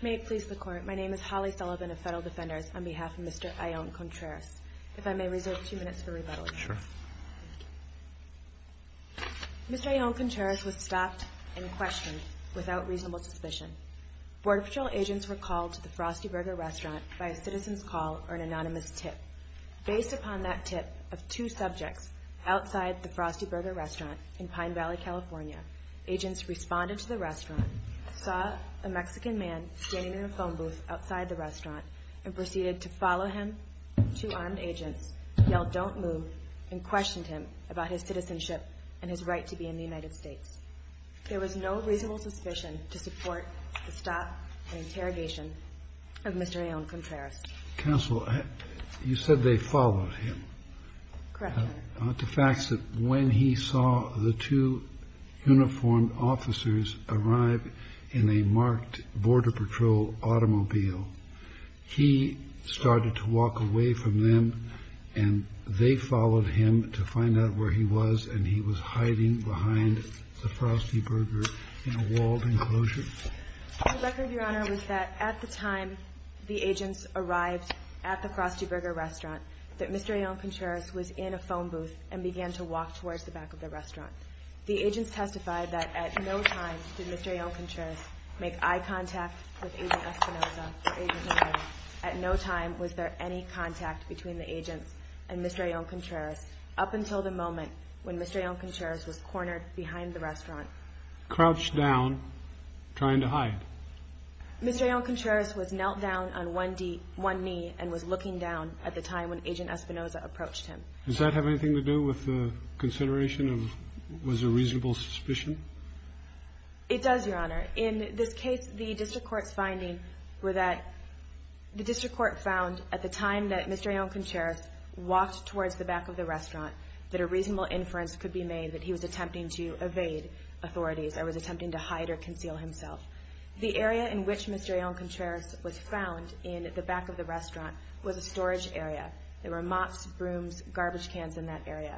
May it please the Court, my name is Holly Sullivan of Federal Defenders on behalf of Mr. Ayon-Contreras. If I may reserve two minutes for rebuttal. Sure. Mr. Ayon-Contreras was stopped and questioned without reasonable suspicion. Border Patrol agents were called to the Frosty Burger restaurant by a citizen's call or an anonymous tip. Based upon that tip of two subjects outside the Frosty Burger restaurant in Pine Valley, California, agents responded to the restaurant, saw a Mexican man standing in a phone booth outside the restaurant, and proceeded to follow him. Two armed agents yelled, don't move, and questioned him about his citizenship and his right to be in the United States. There was no reasonable suspicion to support the stop and interrogation of Mr. Ayon-Contreras. Counsel, you said they followed him. Correct, Your Honor. The facts that when he saw the two uniformed officers arrive in a marked Border Patrol automobile, he started to walk away from them, and they followed him to find out where he was, and he was hiding behind the Frosty Burger in a walled enclosure? The record, Your Honor, was that at the time the agents arrived at the Frosty Burger restaurant, that Mr. Ayon-Contreras was in a phone booth and began to walk towards the back of the restaurant. The agents testified that at no time did Mr. Ayon-Contreras make eye contact with Agent Espinoza or Agent Miller. At no time was there any contact between the agents and Mr. Ayon-Contreras up until the moment when Mr. Ayon-Contreras was cornered behind the restaurant. Crouched down, trying to hide. Mr. Ayon-Contreras was knelt down on one knee and was looking down at the time when Agent Espinoza approached him. Does that have anything to do with the consideration of was there reasonable suspicion? It does, Your Honor. In this case, the district court's findings were that the district court found at the time that Mr. Ayon-Contreras walked towards the back of the restaurant that a reasonable inference could be made that he was attempting to evade authorities or was attempting to hide or conceal himself. The area in which Mr. Ayon-Contreras was found in the back of the restaurant was a storage area. There were mops, brooms, garbage cans in that area.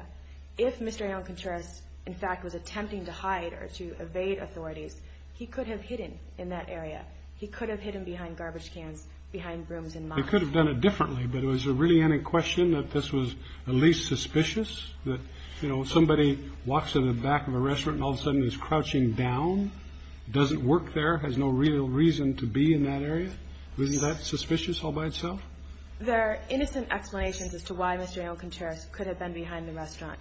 If Mr. Ayon-Contreras, in fact, was attempting to hide or to evade authorities, he could have hidden in that area. He could have hidden behind garbage cans, behind brooms and mops. They could have done it differently, but was there really any question that this was at least suspicious? That, you know, somebody walks to the back of a restaurant and all of a sudden is crouching down, doesn't work there, has no real reason to be in that area? Wasn't that suspicious all by itself? There are innocent explanations as to why Mr. Ayon-Contreras could have been behind the restaurant.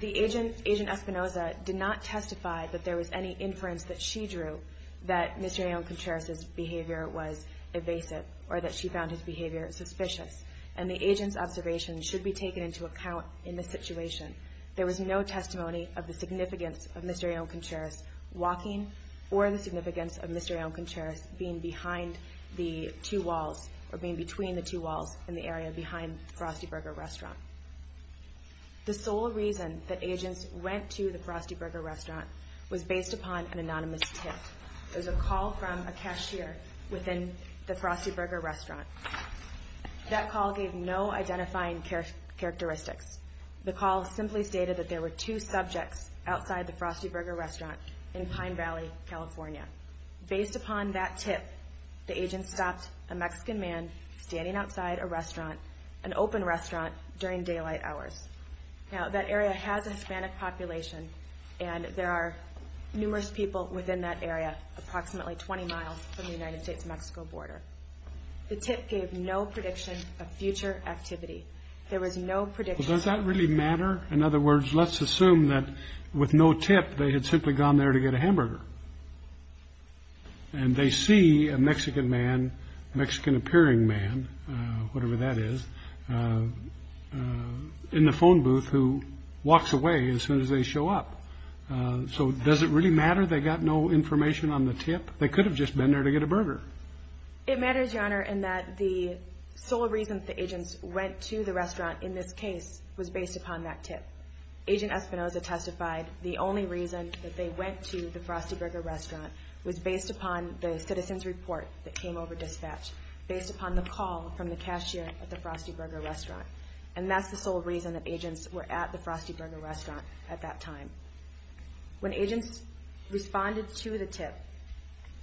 The agent, Agent Espinoza, did not testify that there was any inference that she drew that Mr. Ayon-Contreras' behavior was evasive or that she found his behavior suspicious. And the agent's observations should be taken into account in this situation. There was no testimony of the significance of Mr. Ayon-Contreras walking or the significance of Mr. Ayon-Contreras being behind the two walls or being between the two walls in the area behind the Frosty Burger restaurant. The sole reason that agents went to the Frosty Burger restaurant was based upon an anonymous tip. It was a call from a cashier within the Frosty Burger restaurant. That call gave no identifying characteristics. The call simply stated that there were two subjects outside the Frosty Burger restaurant in Pine Valley, California. Based upon that tip, the agent stopped a Mexican man standing outside a restaurant, an open restaurant, during daylight hours. Now, that area has a Hispanic population and there are numerous people within that area, approximately 20 miles from the United States-Mexico border. The tip gave no prediction of future activity. There was no prediction. Well, does that really matter? In other words, let's assume that with no tip they had simply gone there to get a hamburger. And they see a Mexican man, Mexican-appearing man, whatever that is, in the phone booth who walks away as soon as they show up. So does it really matter they got no information on the tip? They could have just been there to get a burger. It matters, Your Honor, in that the sole reason the agents went to the restaurant in this case was based upon that tip. Agent Espinoza testified the only reason that they went to the Frosty Burger restaurant was based upon the citizen's report that came over dispatch, based upon the call from the cashier at the Frosty Burger restaurant. And that's the sole reason that agents were at the Frosty Burger restaurant at that time. When agents responded to the tip,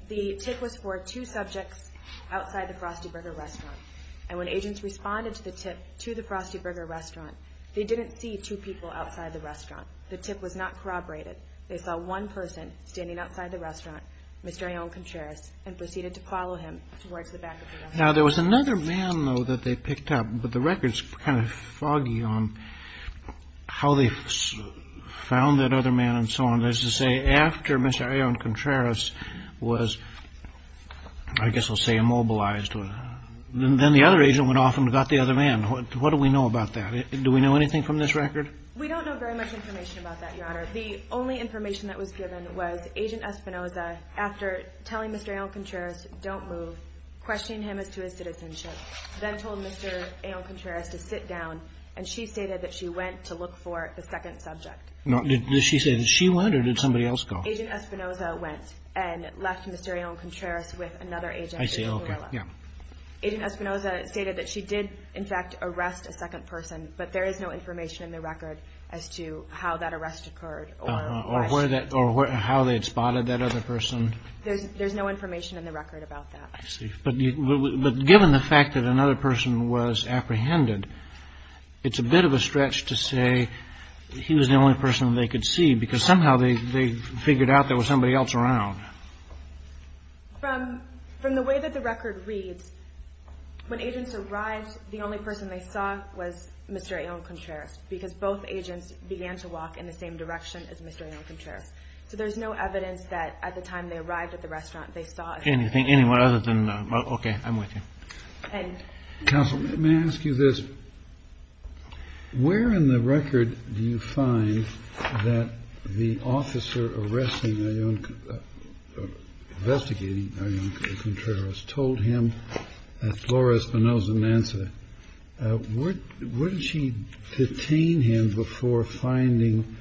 the tip was for two subjects outside the Frosty Burger restaurant. And when agents responded to the tip to the Frosty Burger restaurant, they didn't see two people outside the restaurant. The tip was not corroborated. They saw one person standing outside the restaurant, Mr. Leon Contreras, and proceeded to follow him towards the back of the restaurant. Now, there was another man, though, that they picked up, but the record's kind of foggy on how they found that other man and so on. That is to say, after Mr. Leon Contreras was, I guess I'll say, immobilized, then the other agent went off and got the other man. What do we know about that? Do we know anything from this record? We don't know very much information about that, Your Honor. The only information that was given was Agent Espinoza, after telling Mr. Leon Contreras, don't move, questioning him as to his citizenship, then told Mr. Leon Contreras to sit down, and she stated that she went to look for the second subject. Now, did she say that she went, or did somebody else go? Agent Espinoza went and left Mr. Leon Contreras with another agent. I see. Okay. Yeah. Agent Espinoza stated that she did, in fact, arrest a second person, but there is no information in the record as to how that arrest occurred. Or how they had spotted that other person. There's no information in the record about that. I see. But given the fact that another person was apprehended, it's a bit of a stretch to say he was the only person they could see, because somehow they figured out there was somebody else around. From the way that the record reads, when agents arrived, the only person they saw was Mr. Leon Contreras, because both agents began to walk in the same direction as Mr. Leon Contreras. So there's no evidence that at the time they arrived at the restaurant, they saw a second person. Okay. I'm with you. Counsel, may I ask you this? Where in the record do you find that the officer arresting, investigating Leon Contreras told him that Flores Espinoza Mansa, where did she detain him before finding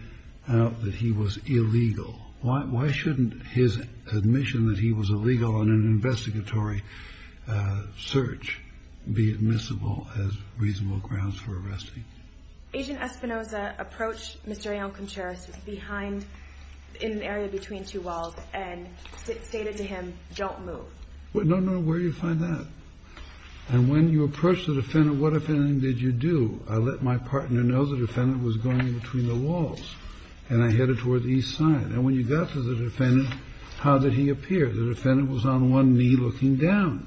out that he was illegal? Why shouldn't his admission that he was illegal in an investigatory search be admissible as reasonable grounds for arresting? Agent Espinoza approached Mr. Leon Contreras in an area between two walls and stated to him, don't move. No, no. Where do you find that? And when you approach the defendant, what, if anything, did you do? I let my partner know the defendant was going between the walls, and I headed toward the east side. And when you got to the defendant, how did he appear? The defendant was on one knee looking down.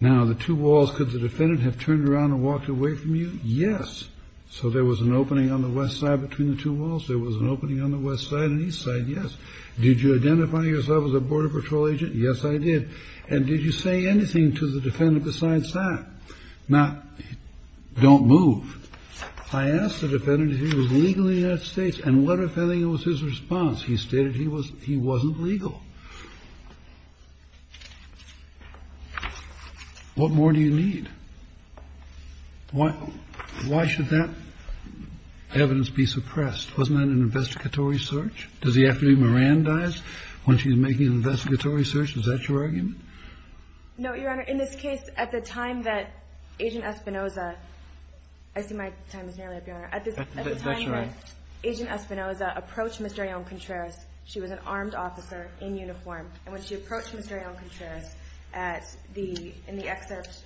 Now, the two walls, could the defendant have turned around and walked away from you? Yes. So there was an opening on the west side between the two walls. There was an opening on the west side and east side. Yes. Did you identify yourself as a border patrol agent? Yes, I did. And did you say anything to the defendant besides that? Not, don't move. I asked the defendant if he was legal in the United States. And what, if anything, was his response? He stated he was he wasn't legal. What more do you need? Why should that evidence be suppressed? Wasn't that an investigatory search? Does he have to be Mirandized when she's making an investigatory search? Is that your argument? No, Your Honor. In this case, at the time that Agent Espinoza, I see my time is nearly up, Your Honor. That's all right. At the time that Agent Espinoza approached Mr. Leon Contreras, she was an armed officer in uniform. And when she approached Mr. Leon Contreras at the, in the excerpt,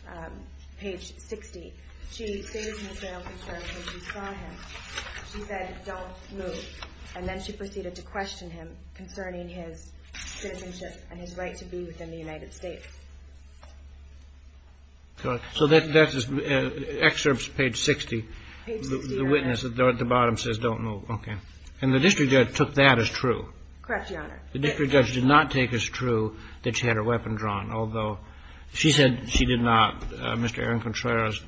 page 60, she stated to Mr. Leon Contreras when she saw him, she said, don't move. And then she proceeded to question him concerning his citizenship and his right to be within the United States. So that's, that's excerpts page 60. Page 60, Your Honor. The witness at the bottom says don't move. Okay. And the district judge took that as true? Correct, Your Honor. The district judge did not take as true that she had her weapon drawn, although she said she did not. Mr. Leon Contreras,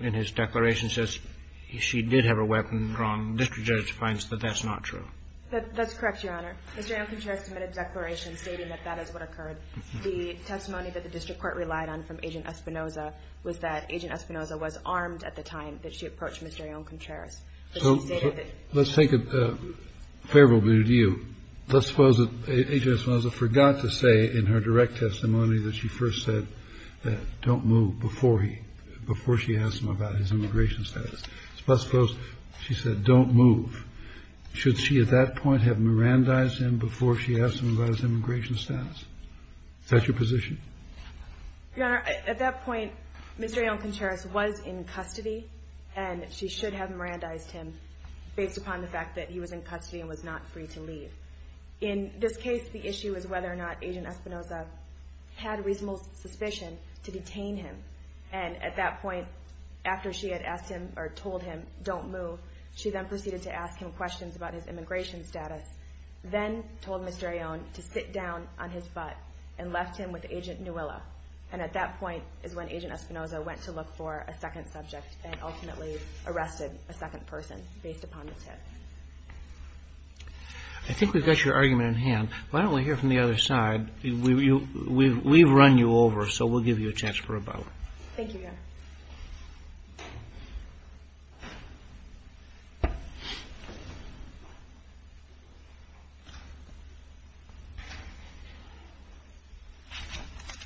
in his declaration, says she did have her weapon drawn. The district judge finds that that's not true. That's correct, Your Honor. Mr. Leon Contreras submitted a declaration stating that that is what occurred. The testimony that the district court relied on from Agent Espinoza was that Agent Espinoza was armed at the time that she approached Mr. Leon Contreras. So let's take a favorable view. Let's suppose Agent Espinoza forgot to say in her direct testimony that she first said that don't move before he, before she asked him about his immigration status. Let's suppose she said don't move. Should she at that point have Mirandized him before she asked him about his immigration status? Is that your position? Your Honor, at that point, Mr. Leon Contreras was in custody, and she should have Mirandized him based upon the fact that he was in custody and was not free to leave. In this case, the issue is whether or not Agent Espinoza had reasonable suspicion to detain him. And at that point, after she had asked him or told him don't move, she then proceeded to ask him questions about his immigration status, then told Mr. Leon to sit down on his butt and left him with Agent Nuilla. And at that point is when Agent Espinoza went to look for a second subject and ultimately arrested a second person based upon this case. I think we've got your argument in hand. Why don't we hear from the other side? We've run you over, so we'll give you a chance for a vote. Thank you, Your Honor.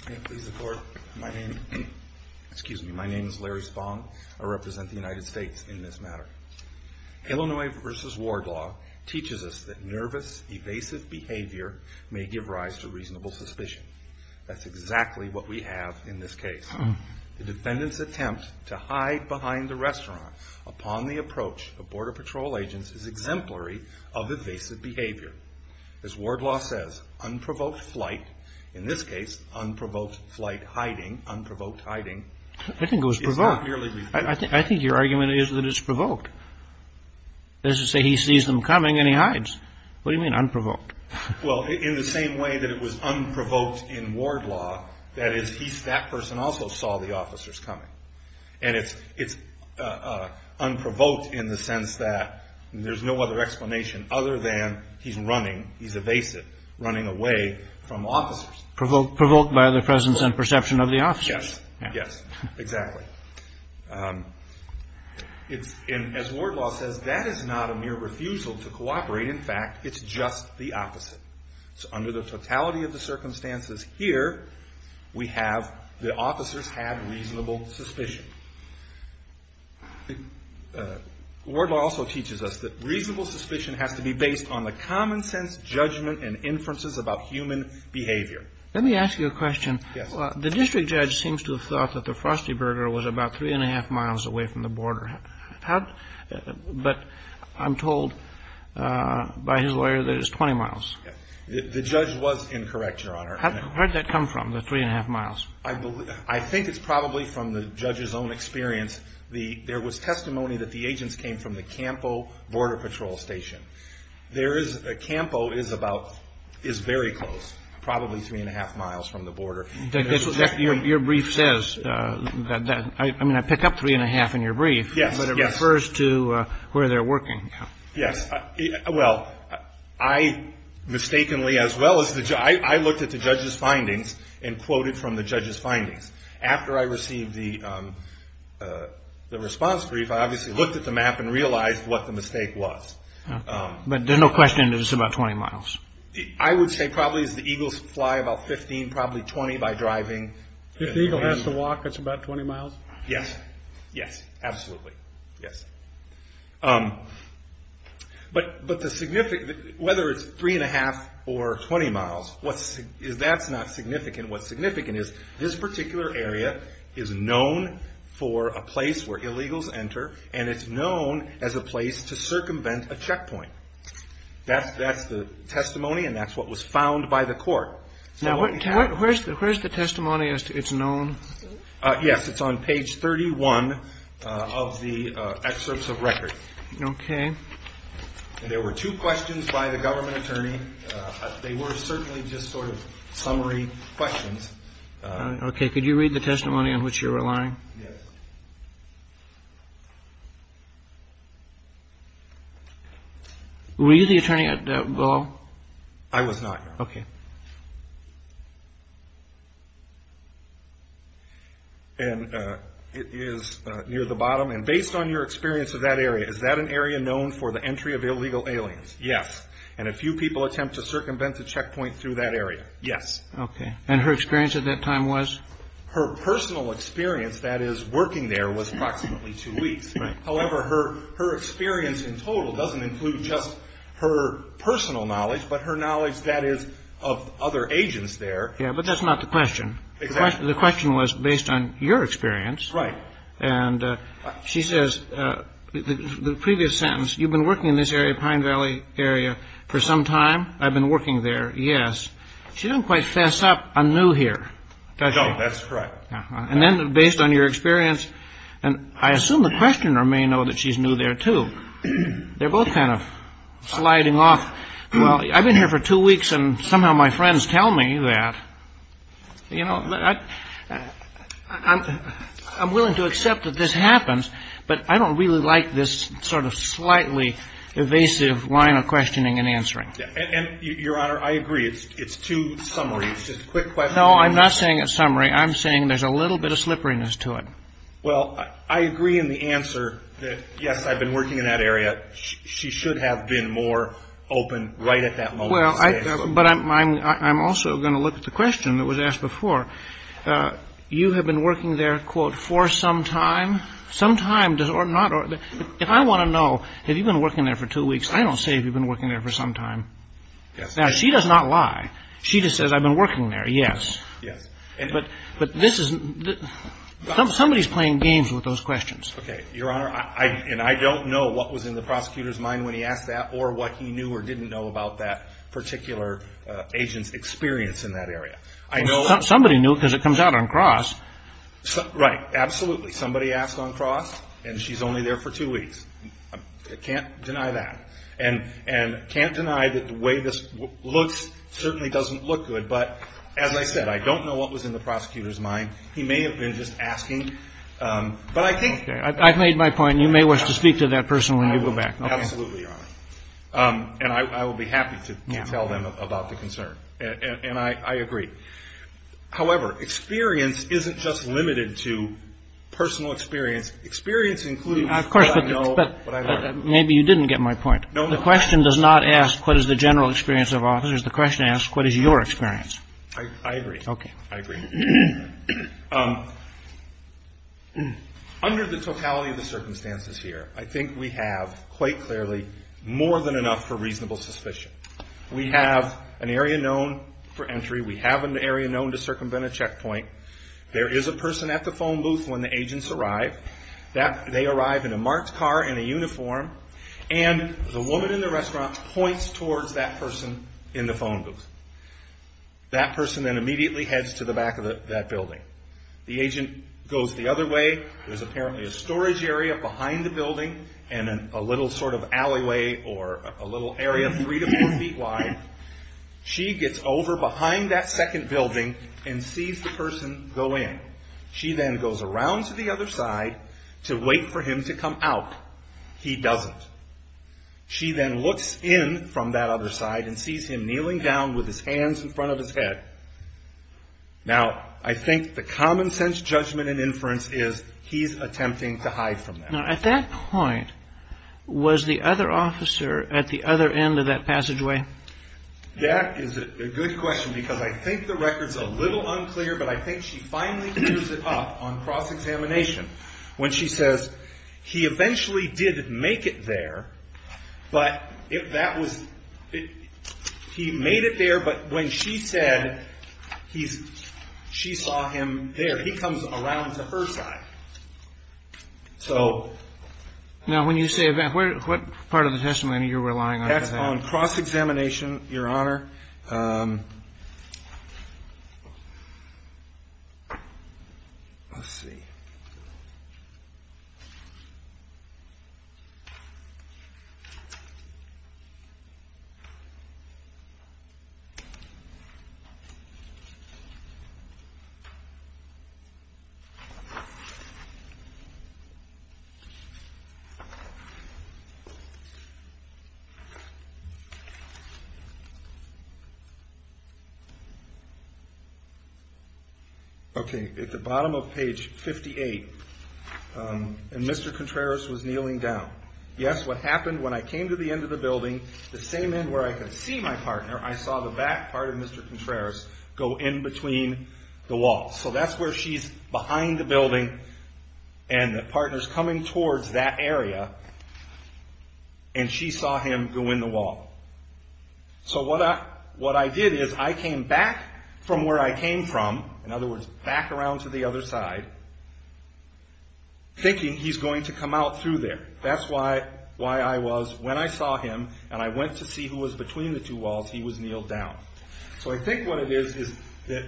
May it please the Court, my name is Larry Spong. I represent the United States in this matter. Illinois v. Ward Law teaches us that nervous, evasive behavior may give rise to reasonable suspicion. That's exactly what we have in this case. The defendant's attempt to hide behind the restaurant upon the approach of Border Patrol agents is exemplary of evasive behavior. As Ward Law says, unprovoked flight, in this case, unprovoked flight hiding, unprovoked hiding, I think it was provoked. I think your argument is that it's provoked. As you say, he sees them coming and he hides. What do you mean unprovoked? Well, in the same way that it was unprovoked in Ward Law, that is, that person also saw the officers coming. And it's unprovoked in the sense that there's no other explanation other than he's running, he's evasive, running away from officers. Provoked by the presence and perception of the officers. Yes, yes, exactly. As Ward Law says, that is not a mere refusal to cooperate. In fact, it's just the opposite. So under the totality of the circumstances here, we have the officers have reasonable suspicion. Ward Law also teaches us that reasonable suspicion has to be based on the common sense judgment and inferences about human behavior. Let me ask you a question. Yes. The district judge seems to have thought that the Frosty Burger was about three-and-a-half miles away from the border. But I'm told by his lawyer that it was 20 miles. The judge was incorrect, Your Honor. Where did that come from, the three-and-a-half miles? I think it's probably from the judge's own experience. There was testimony that the agents came from the Campo Border Patrol Station. Campo is about, is very close, probably three-and-a-half miles from the border. Your brief says, I mean, I pick up three-and-a-half in your brief. Yes, yes. But it refers to where they're working. Yes. Well, I mistakenly as well as the judge, I looked at the judge's findings and quoted from the judge's findings. After I received the response brief, I obviously looked at the map and realized what the mistake was. But there's no question that it's about 20 miles. I would say probably as the eagles fly about 15, probably 20 by driving. If the eagle has to walk, it's about 20 miles? Yes. Yes, absolutely. Yes. But the significant, whether it's three-and-a-half or 20 miles, that's not significant. What's significant is this particular area is known for a place where illegals enter, and it's known as a place to circumvent a checkpoint. That's the testimony, and that's what was found by the court. Now, where's the testimony as to it's known? Yes, it's on page 31 of the excerpts of record. Okay. There were two questions by the government attorney. They were certainly just sort of summary questions. Okay. Could you read the testimony on which you're relying? Yes. Were you the attorney at that ball? I was not. Okay. And it is near the bottom. And based on your experience of that area, is that an area known for the entry of illegal aliens? Yes. And a few people attempt to circumvent the checkpoint through that area? Yes. Okay. And her experience at that time was? Her personal experience, that is, working there was approximately two weeks. Right. However, her experience in total doesn't include just her personal knowledge, but her knowledge, that is, of other agents there. Yeah, but that's not the question. Exactly. The question was based on your experience. Right. And she says, the previous sentence, you've been working in this area, Pine Valley area, for some time? I've been working there, yes. She doesn't quite fess up on new here, does she? No, that's correct. And then based on your experience, and I assume the questioner may know that she's new there, too. They're both kind of sliding off. Well, I've been here for two weeks, and somehow my friends tell me that. You know, I'm willing to accept that this happens, but I don't really like this sort of slightly evasive line of questioning and answering. And, Your Honor, I agree. It's too summary. It's just quick questions. No, I'm not saying it's summary. I'm saying there's a little bit of slipperiness to it. Well, I agree in the answer that, yes, I've been working in that area. She should have been more open right at that moment. But I'm also going to look at the question that was asked before. You have been working there, quote, for some time? Some time or not. If I want to know, have you been working there for two weeks? I don't say have you been working there for some time. Now, she does not lie. She just says I've been working there, yes. Yes. But this isn't the – somebody's playing games with those questions. Okay. Your Honor, and I don't know what was in the prosecutor's mind when he asked that or what he knew or didn't know about that particular agent's experience in that area. Somebody knew because it comes out on cross. Right. Absolutely. Somebody asked on cross, and she's only there for two weeks. I can't deny that. And can't deny that the way this looks certainly doesn't look good. But as I said, I don't know what was in the prosecutor's mind. He may have been just asking. But I think – Okay. I've made my point, and you may wish to speak to that person when you go back. I will. Absolutely, Your Honor. And I will be happy to tell them about the concern. And I agree. However, experience isn't just limited to personal experience. Experience includes what I know – Maybe you didn't get my point. No, no. The question does not ask what is the general experience of officers. The question asks what is your experience. I agree. Okay. I agree. Under the totality of the circumstances here, I think we have quite clearly more than enough for reasonable suspicion. We have an area known for entry. We have an area known to circumvent a checkpoint. There is a person at the phone booth when the agents arrive. They arrive in a marked car in a uniform, and the woman in the restaurant points towards that person in the phone booth. That person then immediately heads to the back of that building. The agent goes the other way. There's apparently a storage area behind the building and a little sort of alleyway or a little area three to four feet wide. She gets over behind that second building and sees the person go in. She then goes around to the other side to wait for him to come out. He doesn't. She then looks in from that other side and sees him kneeling down with his hands in front of his head. Now, I think the common sense judgment and inference is he's attempting to hide from that. Now, at that point, was the other officer at the other end of that passageway? That is a good question because I think the record's a little unclear, but I think she finally clears it up on cross-examination when she says he eventually did make it there, but if that was he made it there, but when she said he's she saw him there. He comes around to her side. So. Now, when you say that, what part of the testimony are you relying on? On cross-examination, Your Honor. Let's see. Okay, at the bottom of page 58, and Mr. Contreras was kneeling down. Yes, what happened when I came to the end of the building, the same end where I could see my partner, I saw the back part of Mr. Contreras go in between the walls. So that's where she's behind the building, and the partner's coming towards that area, and she saw him go in the wall. So what I did is I came back from where I came from, in other words, back around to the other side, thinking he's going to come out through there. That's why I was, when I saw him and I went to see who was between the two walls, he was kneeled down. So I think what it is is that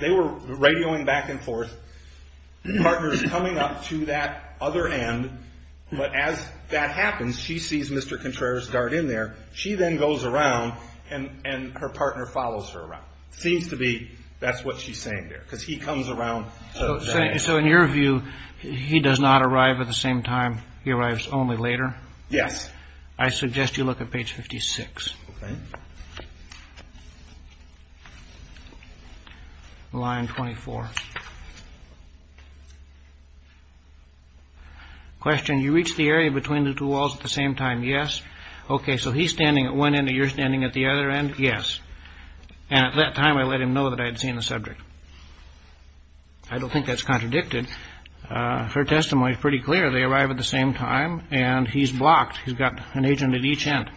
they were radioing back and forth, partners coming up to that other end, but as that happens, she sees Mr. Contreras dart in there. She then goes around, and her partner follows her around. It seems to be that's what she's saying there, because he comes around. So in your view, he does not arrive at the same time, he arrives only later? Yes. I suggest you look at page 56. Okay. Line 24. Question, you reach the area between the two walls at the same time, yes? Okay, so he's standing at one end and you're standing at the other end? Yes. And at that time, I let him know that I had seen the subject. I don't think that's contradicted. Her testimony is pretty clear. They arrive at the same time, and he's blocked. He's got an agent at each end.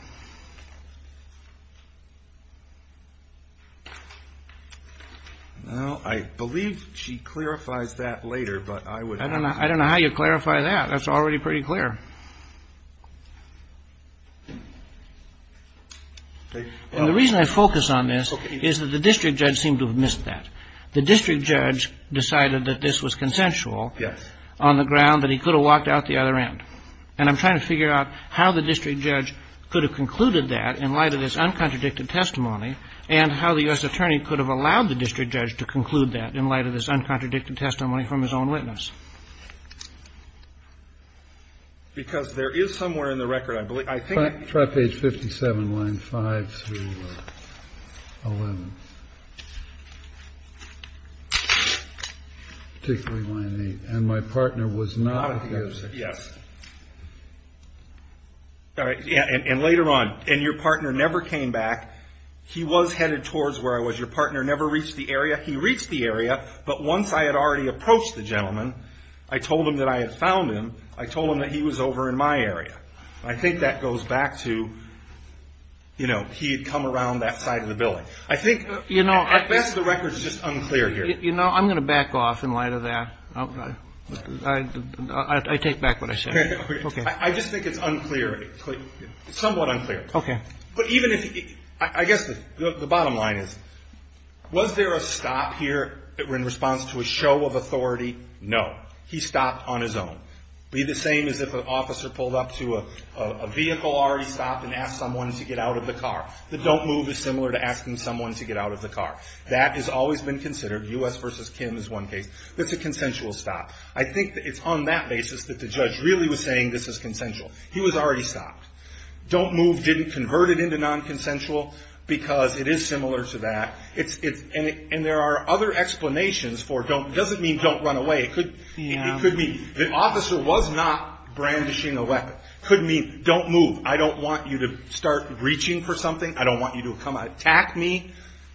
Well, I believe she clarifies that later, but I would. I don't know how you clarify that. That's already pretty clear. And the reason I focus on this is that the district judge seemed to have missed that. The district judge decided that this was consensual. Yes. And I'm trying to figure out how the district judge could have concluded that in light of this uncontradicted testimony and how the U.S. attorney could have allowed the district judge to conclude that in light of this uncontradicted testimony from his own witness. Because there is somewhere in the record, I believe, I think that you can see that. Try page 57, line 5 through 11. Particularly line 8. And my partner was not at the intersection. Yes. And later on. And your partner never came back. He was headed towards where I was. Your partner never reached the area. He reached the area, but once I had already approached the gentleman, I told him that I had found him. I told him that he was over in my area. I think that goes back to, you know, he had come around that side of the building. I think, at best, the record is just unclear here. You know, I'm going to back off in light of that. I take back what I said. Okay. I just think it's unclear, somewhat unclear. Okay. But even if, I guess the bottom line is, was there a stop here in response to a show of authority? No. He stopped on his own. It would be the same as if an officer pulled up to a vehicle already stopped and asked someone to get out of the car. The don't move is similar to asking someone to get out of the car. That has always been considered. U.S. versus Kim is one case. That's a consensual stop. I think it's on that basis that the judge really was saying this is consensual. He was already stopped. Don't move didn't convert it into non-consensual because it is similar to that. And there are other explanations for don't. It doesn't mean don't run away. It could mean the officer was not brandishing a weapon. It could mean don't move. I don't want you to start reaching for something. I don't want you to come attack me.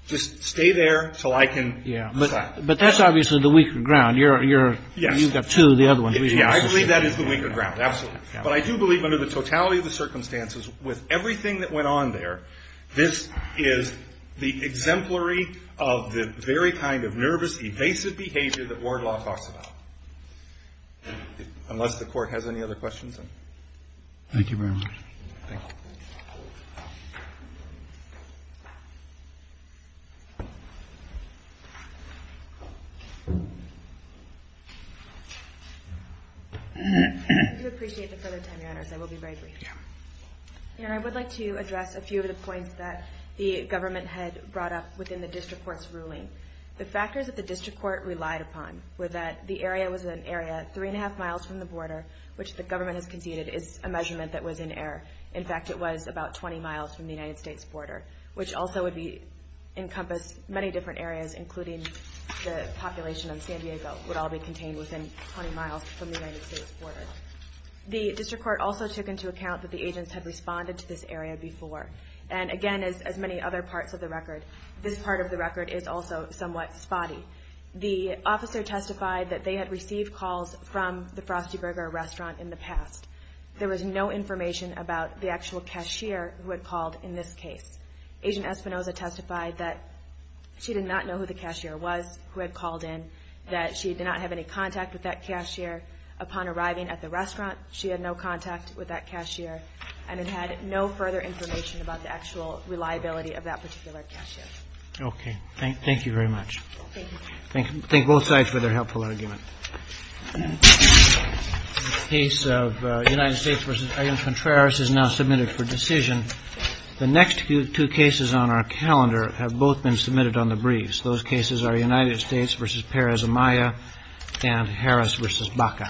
Just stay there so I can attack. But that's obviously the weaker ground. You've got two of the other ones. I believe that is the weaker ground, absolutely. But I do believe under the totality of the circumstances with everything that went on there, this is the exemplary of the very kind of nervous, evasive behavior that ward law talks about. Unless the court has any other questions. Thank you very much. Thank you. I do appreciate the further time, Your Honors. I will be very brief. Yeah. I would like to address a few of the points that the government had brought up within the district court's ruling. The factors that the district court relied upon were that the area was an area three and a half miles from the border, which the government has conceded is a measurement that was in error. In fact, it was about 20 miles from the United States border, which also would encompass many different areas, including the population of San Diego would all be contained within 20 miles from the United States border. The district court also took into account that the agents had responded to this area before. And again, as many other parts of the record, this part of the record is also somewhat spotty. The officer testified that they had received calls from the Frosty Burger restaurant in the past. There was no information about the actual cashier who had called in this case. Agent Espinoza testified that she did not know who the cashier was who had called in, that she did not have any contact with that cashier. Upon arriving at the restaurant, she had no contact with that cashier, and it had no further information about the actual reliability of that particular cashier. Okay. Thank you very much. Thank you. Thank both sides for their helpful argument. The case of United States v. I.M. Contreras is now submitted for decision. The next two cases on our calendar have both been submitted on the briefs. Those cases are United States v. Perez Amaya and Harris v. Baca.